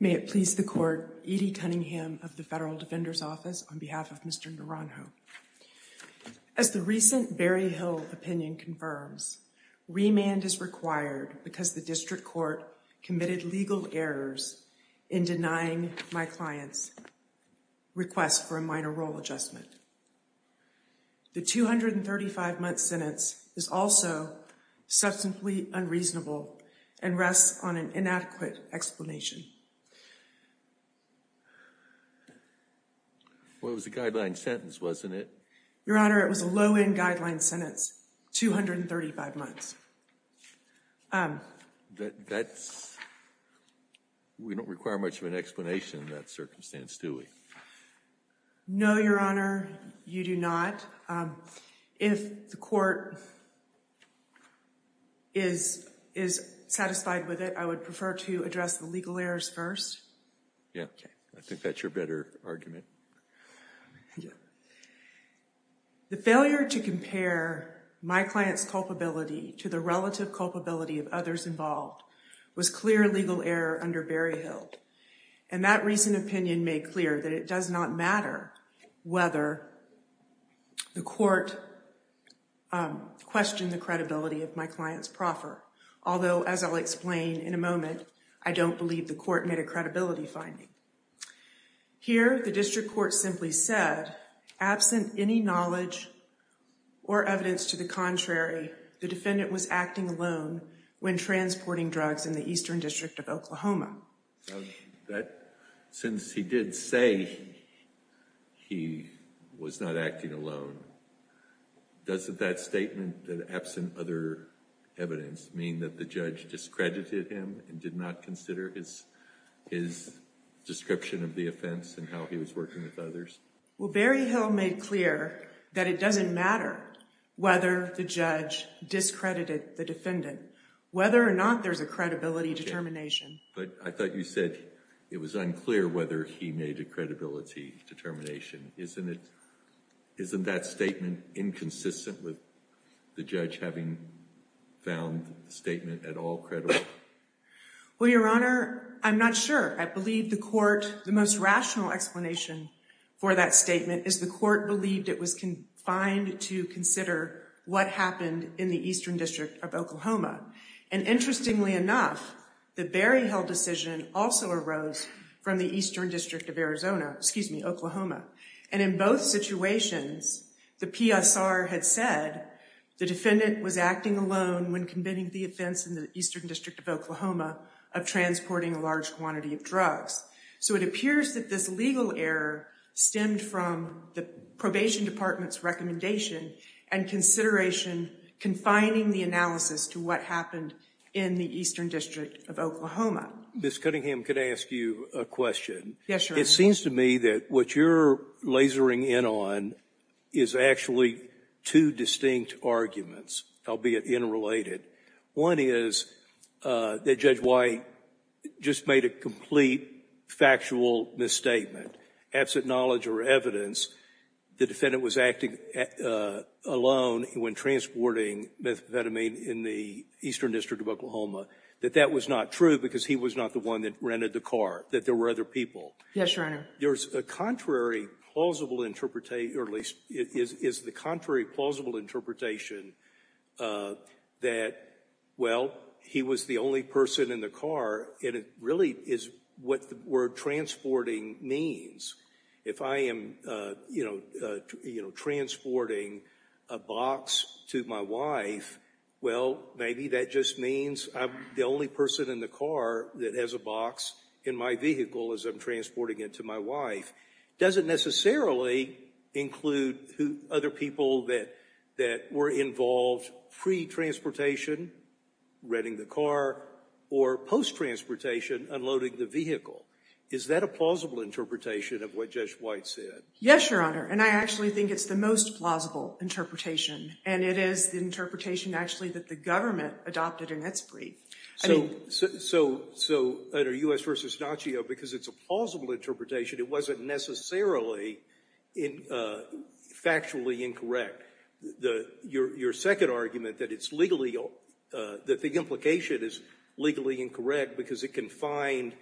May it please the Court, Edie Cunningham of the Federal Defender's Office, on behalf of Mr. Naranjo. As the recent Berry Hill opinion confirms, remand is required because the District Court committed legal errors in denying my client's request for a minor role adjustment. The 235-month sentence is also substantially unreasonable and rests on an inadequate explanation. Well, it was a guideline sentence, wasn't it? Your Honor, it was a low-end guideline sentence, 235 months. That's, we don't require much of an explanation in that circumstance, do we? No, Your Honor, you do not. If the Court is satisfied with it, I would prefer to address the legal errors first. Yeah, I think that's your better argument. The failure to compare my client's culpability to the relative culpability of others involved was clear legal error under Berry Hill. And that recent opinion made clear that it does not matter whether the Court questioned the credibility of my client's proffer, although, as I'll explain in a moment, I don't believe the Court made a credibility finding. Here, the District Court simply said, absent any knowledge or evidence to the contrary, the defendant was acting alone when transporting drugs in the Eastern District of Oklahoma. Since he did say he was not acting alone, doesn't that statement that absent other evidence mean that the judge discredited him and did not consider his description of the offense and how he was working with others? Well, Berry Hill made clear that it doesn't matter whether the judge discredited the defendant, whether or not there's a credibility determination. But I thought you said it was unclear whether he made a credibility determination. Isn't that statement inconsistent with the judge having found the statement at all credible? Well, Your Honor, I'm not sure. I believe the Court, the most rational explanation for that statement is the Court believed it was confined to consider what happened in the Eastern District of Oklahoma. And interestingly enough, the Berry Hill decision also arose from the Eastern District of Arizona, excuse me, Oklahoma. And in both situations, the PSR had said the defendant was acting alone when committing the offense in the Eastern District of Oklahoma of transporting a large quantity of drugs. So it appears that this legal error stemmed from the probation department's recommendation and consideration confining the analysis to what happened in the Eastern District of Oklahoma. Ms. Cunningham, can I ask you a question? Yes, Your Honor. It seems to me that what you're lasering in on is actually two distinct arguments, albeit interrelated. One is that Judge White just made a complete factual misstatement. Absent knowledge or evidence, the defendant was acting alone when transporting methamphetamine in the Eastern District of Oklahoma, that that was not true because he was not the one that rented the car, that there were other people. Yes, Your Honor. There's a contrary plausible interpretation, or at least is the contrary plausible interpretation that, well, he was the only person in the car. And it really is what the word transporting means. If I am, you know, transporting a box to my wife, well, maybe that just means I'm the only person in the car that has a box in my vehicle as I'm transporting it to my wife. Does it necessarily include other people that were involved pre-transportation, renting the car, or post-transportation, unloading the vehicle? Is that a plausible interpretation of what Judge White said? Yes, Your Honor. And I actually think it's the most plausible interpretation, and it is the interpretation actually that the government adopted in its brief. So, under U.S. v. Nacio, because it's a plausible interpretation, it wasn't necessarily factually incorrect. Your second argument that it's legally, that the implication is legally incorrect because it confined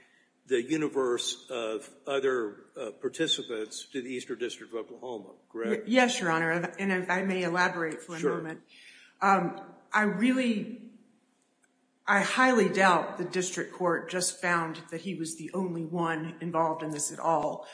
the universe of other participants to the Eastern District of Oklahoma, correct? Yes, Your Honor. And if I may elaborate for a moment. I really, I highly doubt the district court just found that he was the only one involved in this at all.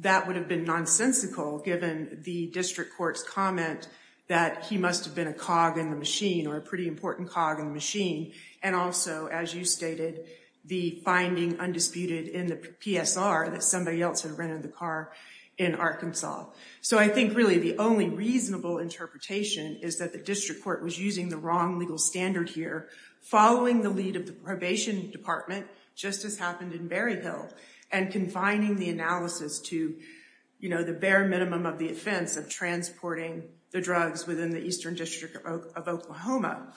That would have been nonsensical given the district court's comment that he must have been a cog in the machine, or a pretty important cog in the machine, and also, as you stated, the finding undisputed in the PSR that somebody else had rented the car in Arkansas. So I think, really, the only reasonable interpretation is that the district court was using the wrong legal standard here, following the lead of the Probation Department, just as happened in Berry Hill, and confining the analysis to, you know, the bare minimum of the offense of transporting the drugs within the Eastern District of Oklahoma.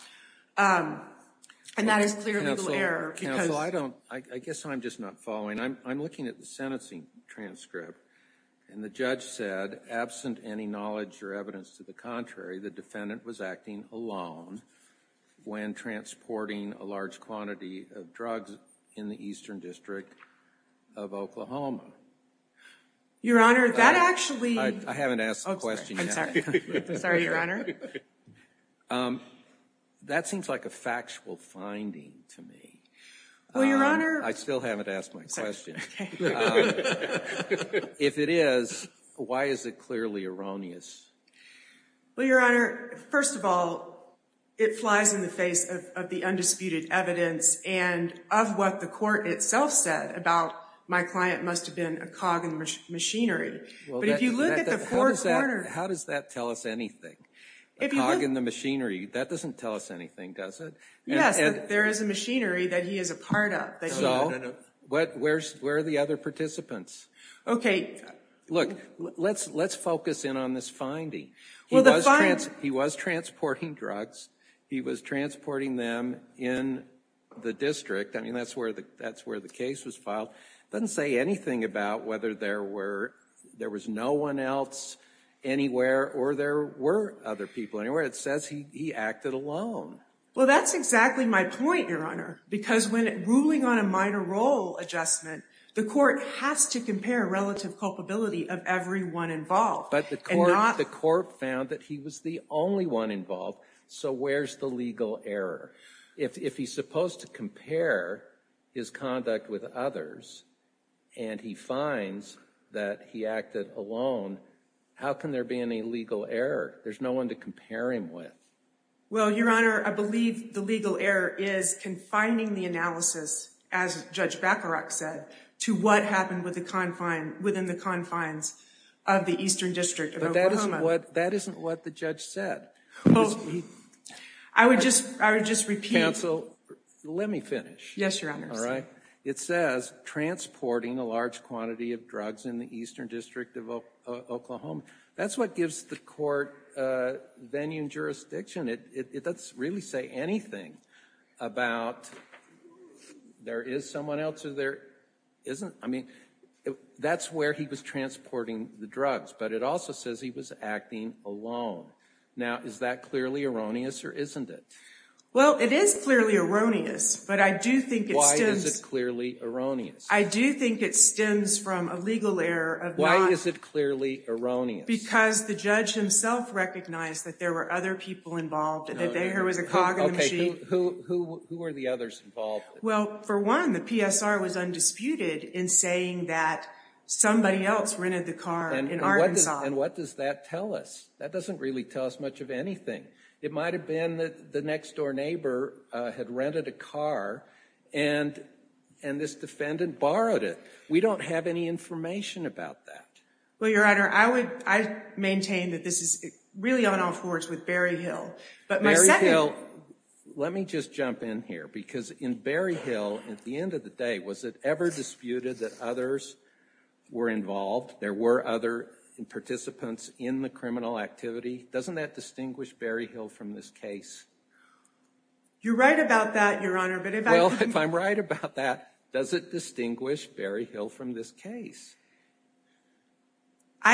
And that is clear legal error, because— Counsel, I don't, I guess I'm just not following. I'm looking at the sentencing transcript, and the judge said, absent any knowledge or evidence to the contrary, the defendant was acting alone when transporting a large quantity of drugs in the Eastern District of Oklahoma. Your Honor, that actually— I haven't asked the question yet. I'm sorry, Your Honor. That seems like a factual finding to me. Well, Your Honor— I still haven't asked my question. If it is, why is it clearly erroneous? Well, Your Honor, first of all, it flies in the face of the undisputed evidence, and of what the court itself said about, my client must have been a cog in the machinery. But if you look at the court order— How does that tell us anything? A cog in the machinery, that doesn't tell us anything, does it? Yes, there is a machinery that he is a part of. No, no, no, no. So, where are the other participants? Okay. Look, let's focus in on this finding. He was transporting drugs. He was transporting them in the district. I mean, that's where the case was filed. It doesn't say anything about whether there was no one else anywhere, or there were other people anywhere. It says he acted alone. Well, that's exactly my point, Your Honor, because when ruling on a minor role adjustment, the court has to compare relative culpability of everyone involved. But the court found that he was the only one involved, so where's the legal error? If he's supposed to compare his conduct with others, and he finds that he acted alone, how can there be any legal error? There's no one to compare him with. Well, Your Honor, I believe the legal error is confining the analysis, as Judge Bacarach said, to what happened within the confines of the Eastern District of Oklahoma. That isn't what the judge said. I would just repeat. Counsel, let me finish. Yes, Your Honor. All right? It says, transporting a large quantity of drugs in the Eastern District of Oklahoma. That's what gives the court venue and jurisdiction. That doesn't really say anything about there is someone else, or there isn't. I mean, that's where he was transporting the drugs, but it also says he was acting alone. Now, is that clearly erroneous, or isn't it? Well, it is clearly erroneous, but I do think it stems... Why is it clearly erroneous? I do think it stems from a legal error of not... Why is it clearly erroneous? Because the judge himself recognized that there were other people involved, that there was a cog in the machine. Who were the others involved? Well, for one, the PSR was undisputed in saying that somebody else rented the car in Arkansas. And what does that tell us? That doesn't really tell us much of anything. It might have been that the next-door neighbor had rented a car, and this defendant borrowed it. We don't have any information about that. Well, Your Honor, I maintain that this is really on-off words with Berryhill. But my second... Berryhill... Let me just jump in here, because in Berryhill, at the end of the day, was it ever disputed that others were involved? There were other participants in the criminal activity? Doesn't that distinguish Berryhill from this case? You're right about that, Your Honor, but if I can... I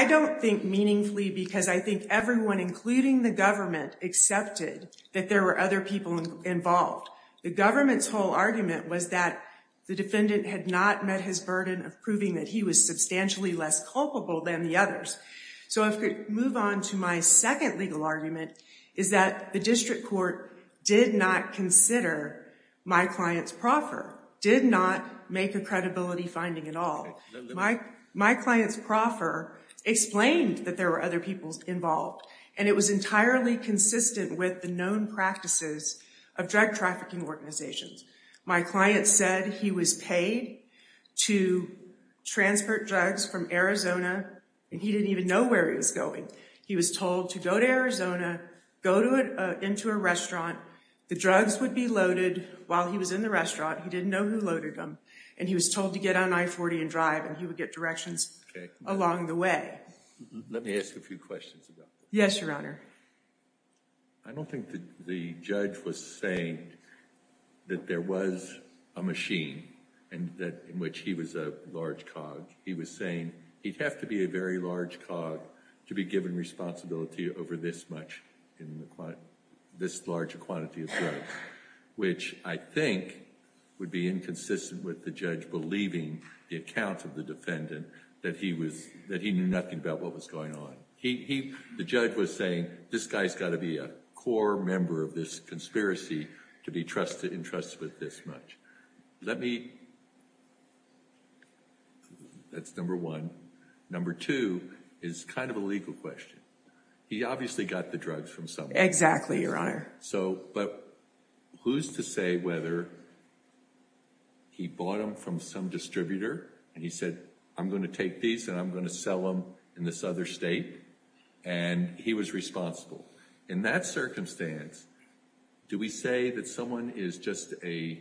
don't think meaningfully, because I think everyone, including the government, accepted that there were other people involved. The government's whole argument was that the defendant had not met his burden of proving that he was substantially less culpable than the others. So if we move on to my second legal argument, is that the district court did not consider my client's proffer, did not make a credibility finding at all. My client's proffer explained that there were other people involved, and it was entirely consistent with the known practices of drug trafficking organizations. My client said he was paid to transport drugs from Arizona, and he didn't even know where he was going. He was told to go to Arizona, go into a restaurant, the drugs would be loaded while he was in the restaurant. He didn't know who loaded them, and he was told to get on I-40 and drive, and he would get directions along the way. Let me ask a few questions about that. Yes, Your Honor. I don't think that the judge was saying that there was a machine in which he was a large cog. He was saying he'd have to be a very large cog to be given responsibility over this much, this large a quantity of drugs, which I think would be inconsistent with the judge believing the account of the defendant that he knew nothing about what was going on. The judge was saying this guy's got to be a core member of this conspiracy to be entrusted with this much. Let me... That's number one. Number two is kind of a legal question. He obviously got the drugs from someone. Exactly, Your Honor. But who's to say whether he bought them from some distributor, and he said, I'm going to take these, and I'm going to sell them in this other state, and he was responsible. In that circumstance, do we say that someone is just a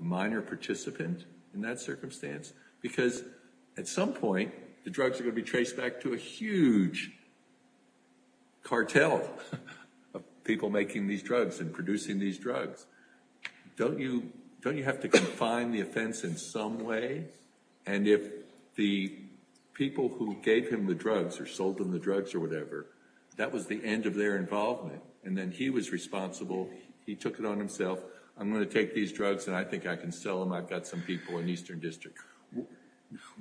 minor participant in that circumstance? Because at some point, the drugs are going to be traced back to a huge cartel of people making these drugs and producing these drugs. Don't you have to confine the offense in some way? And if the people who gave him the drugs or sold him the drugs or whatever, that was the end of their involvement, and then he was responsible. He took it on himself. I'm going to take these drugs, and I think I can sell them. I've got some people in Eastern District.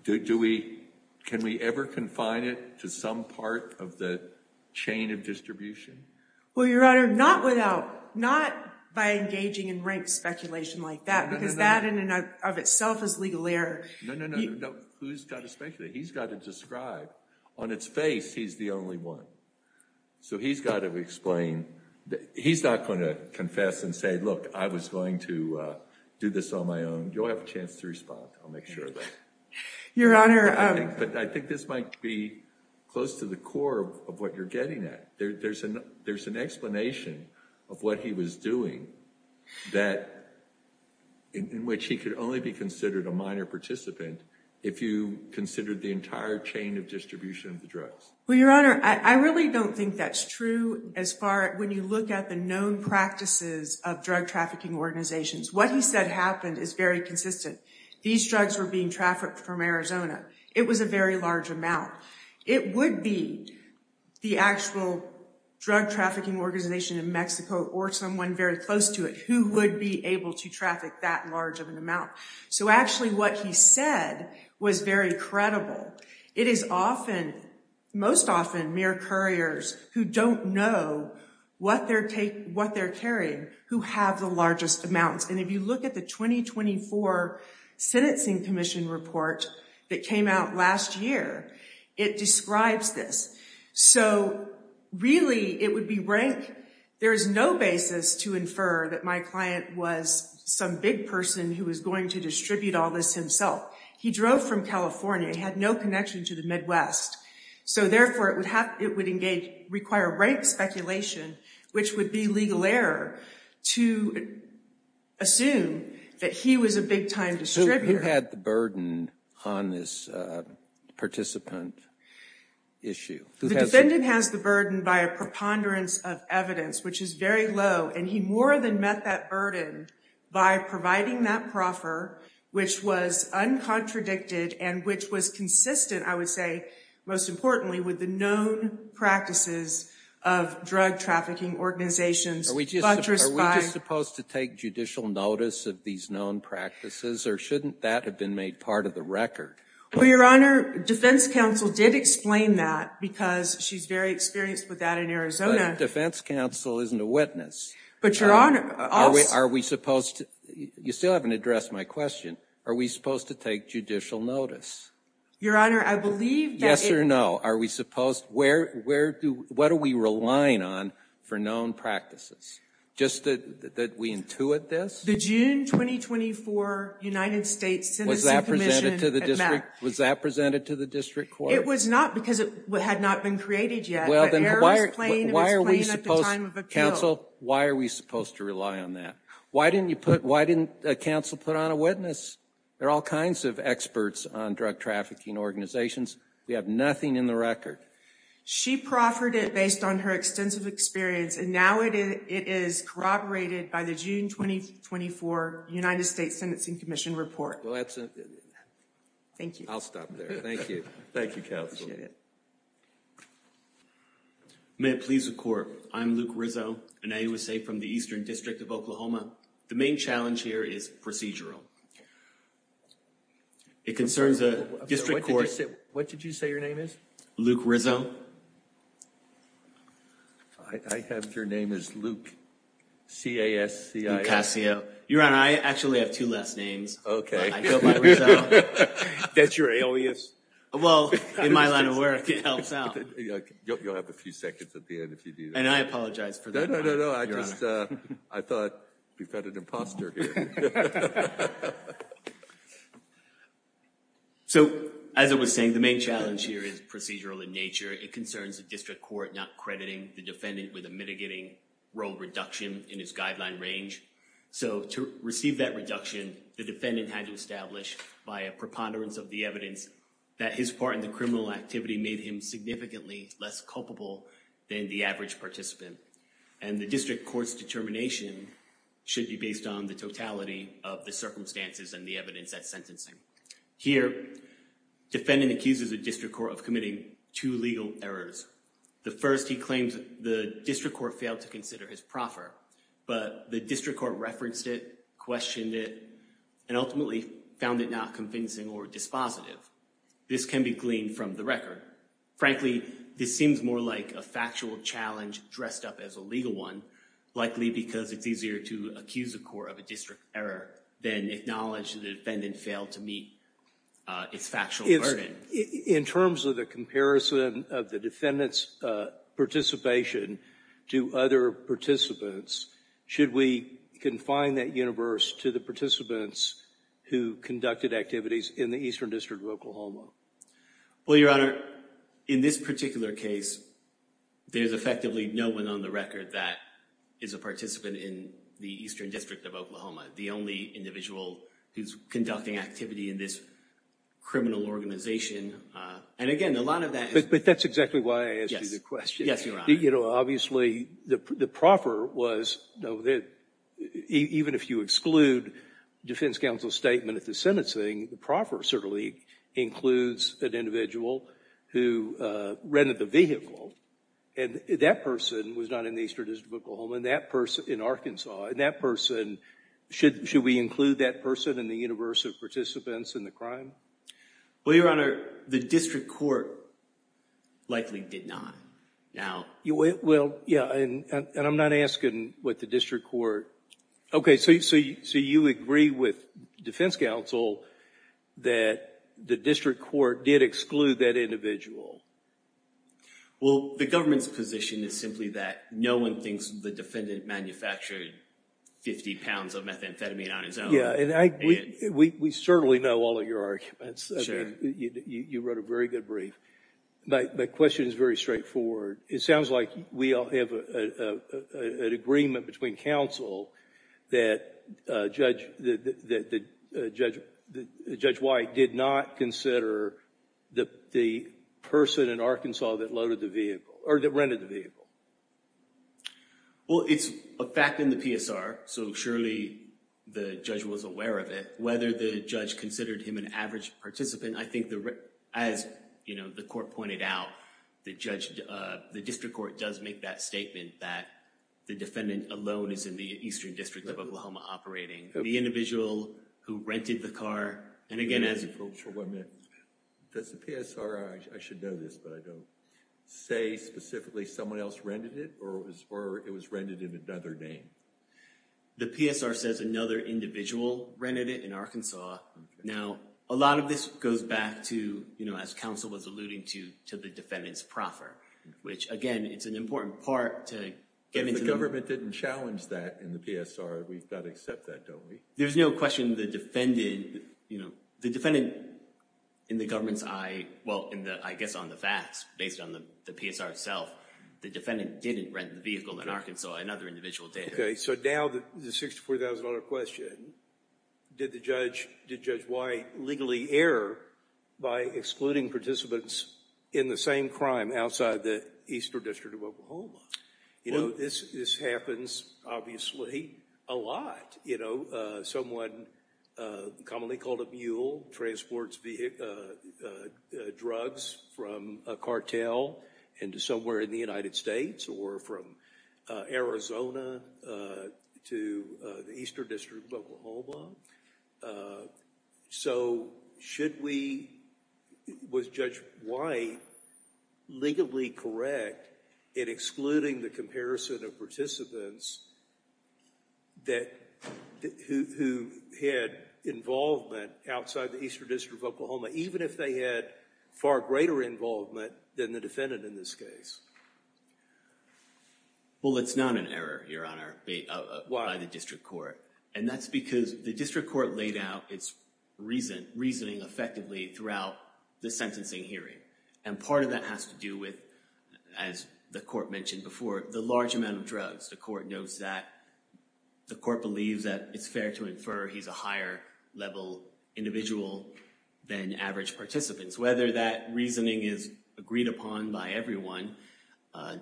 Can we ever confine it to some part of the chain of distribution? Well, Your Honor, not by engaging in rank speculation like that, because that in and of itself is legal error. No, no, no. Who's got to speculate? He's got to describe. On its face, he's the only one. So he's got to explain. He's not going to confess and say, look, I was going to do this on my own. You'll have a chance to respond. I'll make sure of that. Your Honor. But I think this might be close to the core of what you're getting at. There's an explanation of what he was doing in which he could only be considered a minor participant if you considered the entire chain of distribution of the drugs. Well, Your Honor, I really don't think that's true as far as when you look at the known practices of drug trafficking organizations. What he said happened is very consistent. These drugs were being trafficked from Arizona. It was a very large amount. It would be the actual drug trafficking organization in Mexico or someone very close to it who would be able to traffic that large of an amount. So actually what he said was very credible. It is often, most often mere couriers who don't know what they're carrying who have the largest amounts. And if you look at the 2024 Sentencing Commission report that came out last year, it describes this. So really it would be rank. There is no basis to infer that my client was some big person who was going to distribute all this himself. He drove from California. He had no connection to the Midwest. So therefore, it would engage, require rank speculation, which would be legal error to assume that he was a big-time distributor. So who had the burden on this participant issue? The defendant has the burden by a preponderance of evidence, which is very low. And he more than met that burden by providing that proffer, which was uncontradicted and which was consistent, I would say, most importantly, with the known practices of drug trafficking organizations. Are we just supposed to take judicial notice of these known practices or shouldn't that have been made part of the record? Well, Your Honor, Defense Counsel did explain that because she's very experienced with that in Arizona. But if Defense Counsel isn't a witness, are we supposed to? You still haven't addressed my question. Are we supposed to take judicial notice? Your Honor, I believe that... Yes or no. Are we supposed... Where do... What are we relying on for known practices? Just that we intuit this? The June 2024 United States Sentencing Commission... Was that presented to the district? Was that presented to the district court? It was not because it had not been created yet. But error was playing at the time of appeal. Counsel, why are we supposed to rely on that? Why didn't you put... Why didn't counsel put on a witness? There are all kinds of experts on drug trafficking organizations. We have nothing in the record. She proffered it based on her extensive experience and now it is corroborated by the June 2024 United States Sentencing Commission report. Well, that's... Thank you. I'll stop there. Thank you. Thank you, Counsel. Appreciate it. May it please the court, I'm Luke Rizzo, an AUSA from the Eastern District of Oklahoma The main challenge here is procedural. It concerns a district court... What did you say your name is? Luke Rizzo. I have... Your name is Luke, C-A-S-C-I-O. Lukasio. Your Honor, I actually have two last names. Okay. I feel like we're... That's your alias. Well, in my line of work, it helps out. You'll have a few seconds at the end if you do that. And I apologize for that. No, no, no, no. I just... I thought... We've got an imposter here. So as I was saying, the main challenge here is procedural in nature. It concerns a district court not crediting the defendant with a mitigating role reduction in his guideline range. So to receive that reduction, the defendant had to establish by a preponderance of the evidence that his part in the criminal activity made him significantly less culpable than the average participant. And the district court's determination should be based on the totality of the circumstances and the evidence at sentencing. Here, defendant accuses a district court of committing two legal errors. The first, he claims the district court failed to consider his proffer, but the district court referenced it, questioned it, and ultimately found it not convincing or dispositive. This can be gleaned from the record. Frankly, this seems more like a factual challenge dressed up as a legal one, likely because it's easier to accuse a court of a district error than acknowledge the defendant failed to meet its factual burden. In terms of the comparison of the defendant's participation to other participants, should we confine that universe to the participants who conducted activities in the Eastern District of Oklahoma? Well, Your Honor, in this particular case, there's effectively no one on the record that is a participant in the Eastern District of Oklahoma, the only individual who's conducting activity in this criminal organization. And again, a lot of that is... But that's exactly why I asked you the question. Yes, Your Honor. You know, obviously, the proffer was... even if you exclude defense counsel's statement at the sentencing, the proffer certainly includes an individual who rented the vehicle, and that person was not in the Eastern District of Oklahoma, and that person in Arkansas, and that person... should we include that person in the universe of participants in the crime? Well, Your Honor, the district court likely did not. Now... Well, yeah, and I'm not asking what the district court... Okay, so you agree with defense counsel that the district court did exclude that individual? Well, the government's position is simply that no one thinks the defendant manufactured fifty pounds of methamphetamine on his own. Yeah, and we certainly know all of your arguments. You wrote a very good brief. My question is very straightforward. It sounds like we all have an agreement between counsel that Judge White did not consider the person in Arkansas that loaded the vehicle, or that rented the vehicle. Well, it's a fact in the PSR, so surely the judge was aware of it. Whether the judge considered him an average participant, I think, as the court pointed out, the district court does make that statement that the defendant alone is in the Eastern District of Oklahoma operating. The individual who rented the car, and again as... Hold on a minute. Does the PSR, I should know this, but I don't, say specifically someone else rented it, or it was rented in another name? The PSR says another individual rented it in Arkansas. Now, a lot of this goes back to, as counsel was alluding to, to the defendant's proffer, which again, it's an important part to get into... But if the government didn't challenge that in the PSR, we've got to accept that, don't we? There's no question the defendant, you know, the defendant in the government's eye, well, I guess on the facts, based on the PSR itself, the defendant didn't rent the vehicle in Arkansas. Another individual did. Okay, so now the $64,000 question, did Judge White legally err by excluding participants in the same crime outside the Eastern District of Oklahoma? You know, this happens, obviously, a lot. You know, someone, commonly called a mule, transports drugs from a cartel into somewhere in the United States, or from Arizona to the Eastern District of Oklahoma. So should we... was Judge White legally correct in excluding the comparison of participants that... who had involvement outside the Eastern District of Oklahoma, even if they had far greater involvement than the defendant in this case? Well, it's not an error, Your Honor, by the District Court. And that's because the District Court laid out its reasoning effectively throughout the sentencing hearing. And part of that has to do with, as the Court mentioned before, the large amount of drugs. The Court knows that... the Court believes that it's fair to infer he's a higher-level individual than average participants. Whether that reasoning is agreed upon by everyone,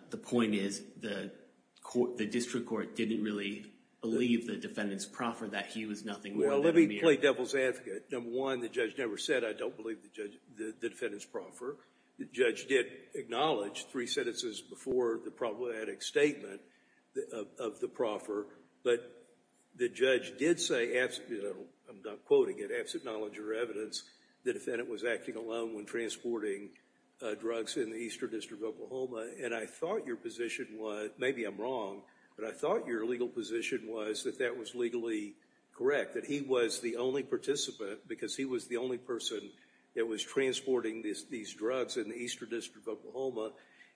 the point is the District Court didn't really believe the defendant's proffer that he was nothing more than a mere... Well, let me play devil's advocate. Number one, the judge never said, I don't believe the defendant's proffer. The judge did acknowledge three sentences before the problematic statement of the proffer. But the judge did say, I'm not quoting it, absent knowledge or evidence, the defendant was acting alone when transporting drugs in the Eastern District of Oklahoma. And I thought your position was... maybe I'm wrong, but I thought your legal position was that that was legally correct, that he was the only participant, because he was the only person that was transporting these drugs in the Eastern District of Oklahoma.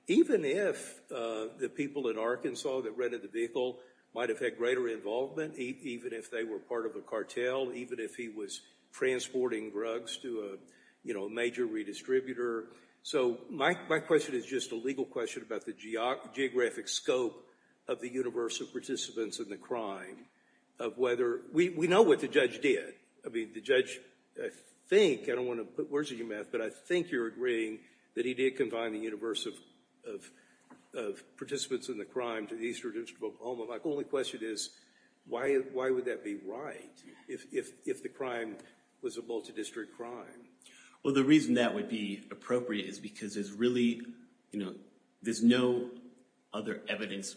Even if the people in Arkansas that rented the vehicle might have had greater involvement, even if they were part of a cartel, even if he was transporting drugs to a major redistributor. So my question is just a legal question about the geographic scope of the universe of participants in the crime, of whether... we know what the judge did. I mean, the judge, I think, I don't want to put words in your mouth, but I think you're agreeing that he did combine the universe of participants in the crime to the Eastern District of Oklahoma. My only question is, why would that be right, if the crime was a multi-district crime? Well, the reason that would be appropriate is because there's really, you know, there's no other evidence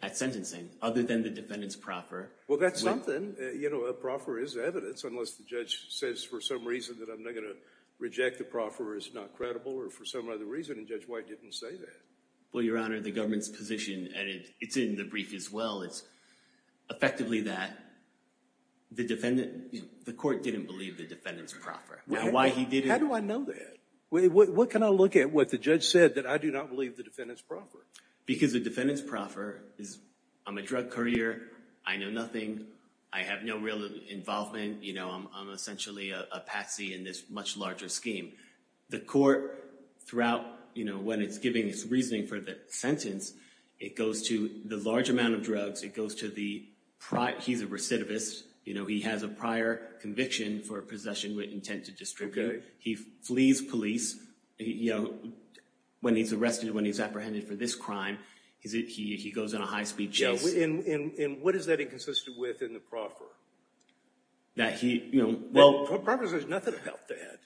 at sentencing, other than the defendant's proffer... Well, that's something. You know, a proffer is evidence, unless the judge says for some reason that I'm not going to reject the proffer as not credible, or for some other reason, and Judge White didn't say that. Well, Your Honor, the government's position, and it's in the brief as well, is effectively that the defendant... the court didn't believe the defendant's proffer. Why he didn't... How do I know that? What can I look at what the judge said that I do not believe the defendant's proffer? Because the defendant's proffer is, I'm a drug courier, I know nothing, I have no real involvement, you know, I'm essentially a patsy in this much larger scheme. The court, throughout, you know, when it's giving its reasoning for the sentence, it goes to the large amount of drugs, it goes to the... he's a recidivist, you know, he has a prior conviction for possession with intent to destroy. He flees police, you know, when he's arrested, when he's apprehended for this crime, he goes on a high-speed chase. Yeah, and what is that inconsistent with in the proffer? That he, you know... The proffer says nothing about that.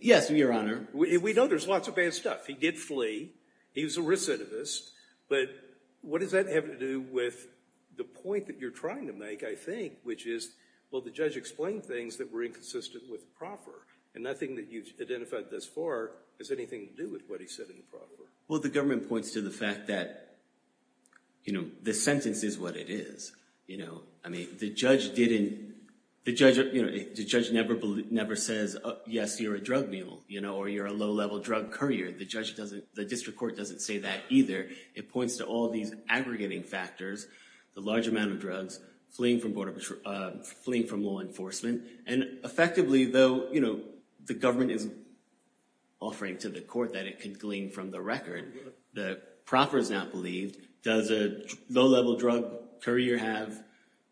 Yes, Your Honor. We know there's lots of bad stuff. He did flee. He was a recidivist. But what does that have to do with the point that you're trying to make, I think, which is, well, the judge explained things that were inconsistent with the proffer, and nothing that you've identified thus far has anything to do with what he said in the proffer. Well, the government points to the fact that, you know, the sentence is what it is, you know. I mean, the judge didn't... the judge never says, yes, you're a drug mule, you know, or you're a low-level drug courier. The judge doesn't... the district court doesn't say that either. It points to all these aggregating factors, the large amount of drugs, fleeing from law enforcement, and effectively, though, you know, the government isn't offering to the court that it could glean from the record, the proffer is not believed. Does a low-level drug courier have,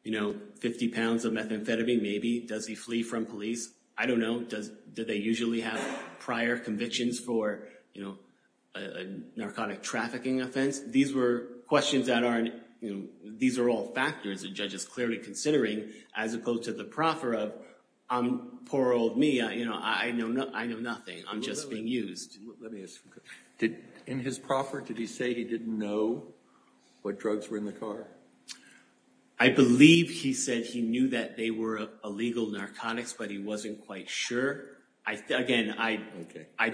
you know, 50 pounds of methamphetamine, maybe? Does he flee from police? I don't know. Does... do they usually have prior convictions for, you know, a narcotic trafficking offense? These were questions that aren't... you know, these are all factors the judge is clearly considering as opposed to the proffer of, I'm a poor old me, you know, I know nothing. I'm just being used. Let me ask you a question. In his proffer, did he say he didn't know what drugs were in the car? I believe he said he knew that they were illegal narcotics, but he wasn't quite sure. Again, I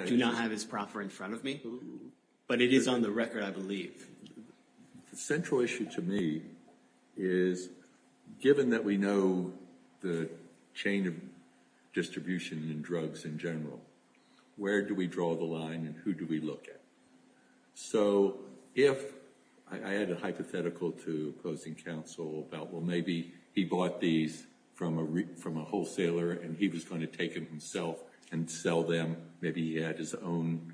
do not have his proffer in front of me, but it is on the record, I believe. The central issue to me is given that we know the chain of distribution in drugs in general, where do we draw the line and who do we look at? So if... I had a hypothetical to opposing counsel about, well, maybe he bought these from a wholesaler and he was going to take them himself and sell them. Maybe he had his own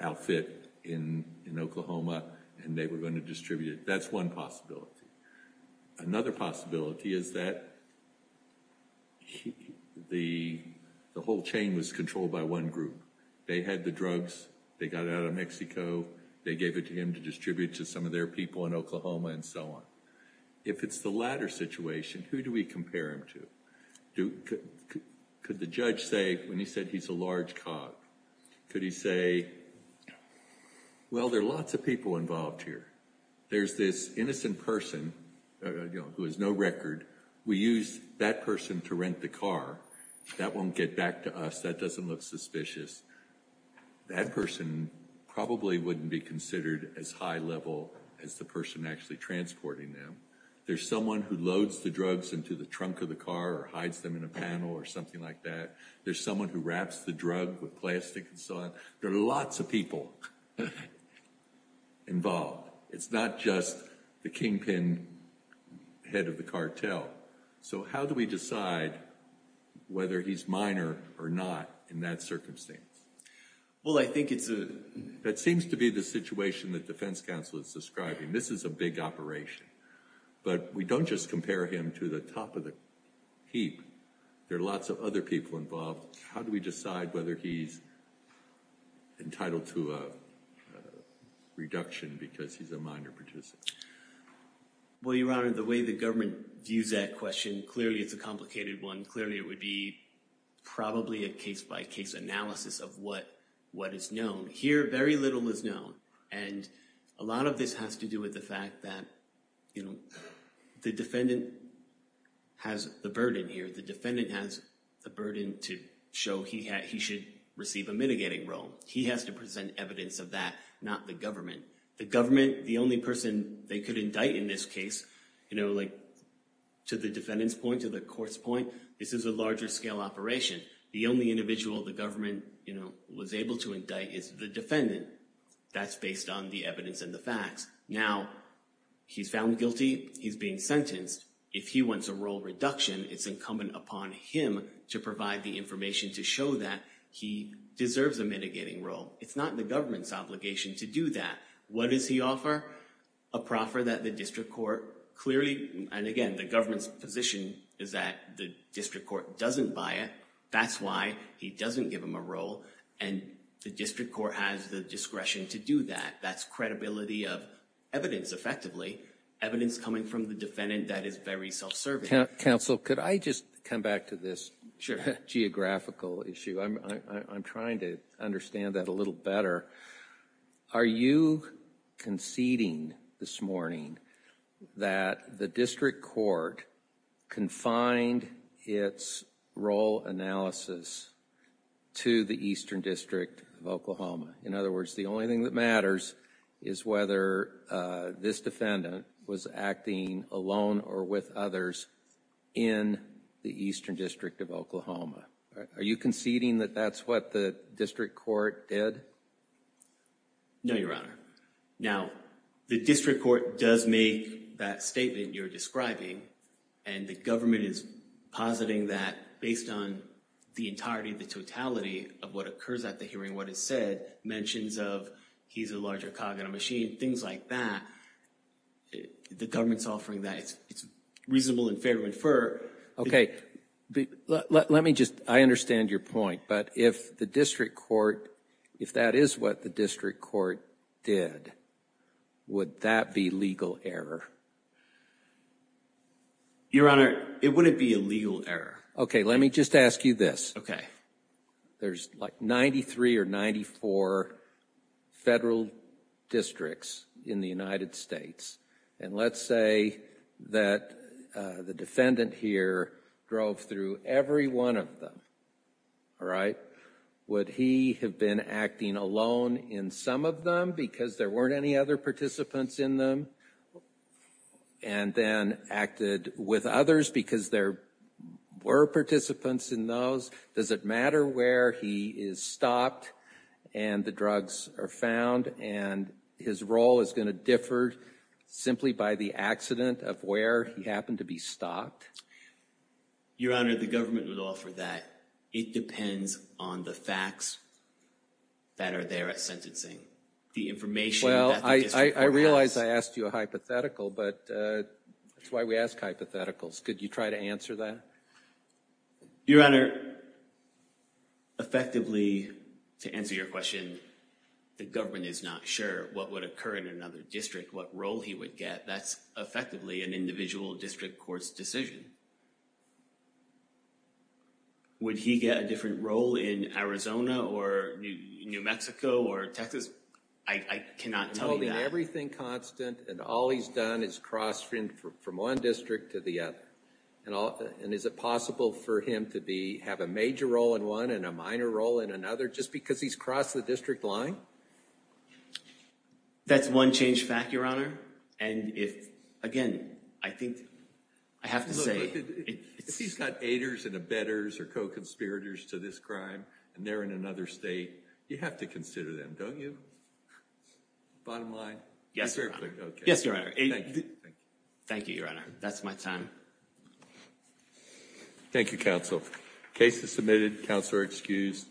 outfit in Oklahoma and they were going to distribute it. That's one possibility. Another possibility is that the whole chain was controlled by one group. They had the drugs, they got it out of Mexico, they gave it to him to distribute to some of their people in Oklahoma and so on. If it's the latter situation, who do we compare him to? Could the judge say, when he said he's a large cog, could he say, well, there are lots of people involved here. There's this innocent person who has no record. We use that person to rent the car. That won't get back to us. That doesn't look suspicious. That person probably wouldn't be considered as high level as the person actually transporting them. There's someone who loads the drugs into the trunk of the car or hides them in a panel or something like that. There's someone who wraps the drug with plastic and so on. There are lots of people involved. It's not just the kingpin head of the cartel. So how do we decide whether he's minor or not in that circumstance? Well I think that seems to be the situation that defense counsel is describing. This is a big operation. But we don't just compare him to the top of the heap. There are lots of other people involved. How do we decide whether he's entitled to a reduction because he's a minor participant? Well, Your Honor, the way the government views that question, clearly it's a complicated one. Clearly it would be probably a case by case analysis of what is known. Here very little is known. And a lot of this has to do with the fact that the defendant has the burden here. The defendant has the burden to show he should receive a mitigating role. He has to present evidence of that, not the government. The government, the only person they could indict in this case, to the defendant's point, to the court's point, this is a larger scale operation. The only individual the government was able to indict is the defendant. That's based on the evidence and the facts. Now he's found guilty. He's being sentenced. If he wants a role reduction, it's incumbent upon him to provide the information to show that he deserves a mitigating role. It's not the government's obligation to do that. What does he offer? A proffer that the district court clearly, and again, the government's position is that the district court doesn't buy it. That's why he doesn't give him a role. And the district court has the discretion to do that. That's credibility of evidence, effectively. Evidence coming from the defendant that is very self-serving. Counsel, could I just come back to this geographical issue? I'm trying to understand that a little better. Are you conceding this morning that the district court confined its role analysis to the Eastern District of Oklahoma? In other words, the only thing that matters is whether this defendant was acting alone or with others in the Eastern District of Oklahoma. Are you conceding that that's what the district court did? No, Your Honor. Now the district court does make that statement you're describing, and the government is positing that based on the entirety, the totality of what occurs at the hearing, what is said mentions of he's a larger cog in a machine, things like that, the government's offering that it's reasonable and fair to infer. Okay, let me just, I understand your point, but if the district court, if that is what the district court did, would that be legal error? Your Honor, it wouldn't be a legal error. Okay, let me just ask you this. There's like 93 or 94 federal districts in the United States, and let's say that the defendant here drove through every one of them, all right? Would he have been acting alone in some of them because there weren't any other participants in them, and then acted with others because there were participants in those? Does it matter where he is stopped and the drugs are found, and his role is going to differ simply by the accident of where he happened to be stopped? Your Honor, the government would offer that. It depends on the facts that are there at sentencing. Well, I realize I asked you a hypothetical, but that's why we ask hypotheticals. Could you try to answer that? Your Honor, effectively, to answer your question, the government is not sure what would occur in another district, what role he would get. That's effectively an individual district court's decision. Would he get a different role in Arizona or New Mexico or Texas? I cannot tell you that. You're holding everything constant, and all he's done is crossed from one district to the other. Is it possible for him to have a major role in one and a minor role in another just because he's crossed the district line? That's one changed fact, Your Honor. And if, again, I think I have to say— Look, if he's got aiders and abettors or co-conspirators to this crime, and they're in another state, you have to consider them, don't you? Bottom line? Yes, Your Honor. Okay. Yes, Your Honor. Thank you. Thank you, Your Honor. That's my time. Thank you, counsel. Case is submitted. Counsel are excused.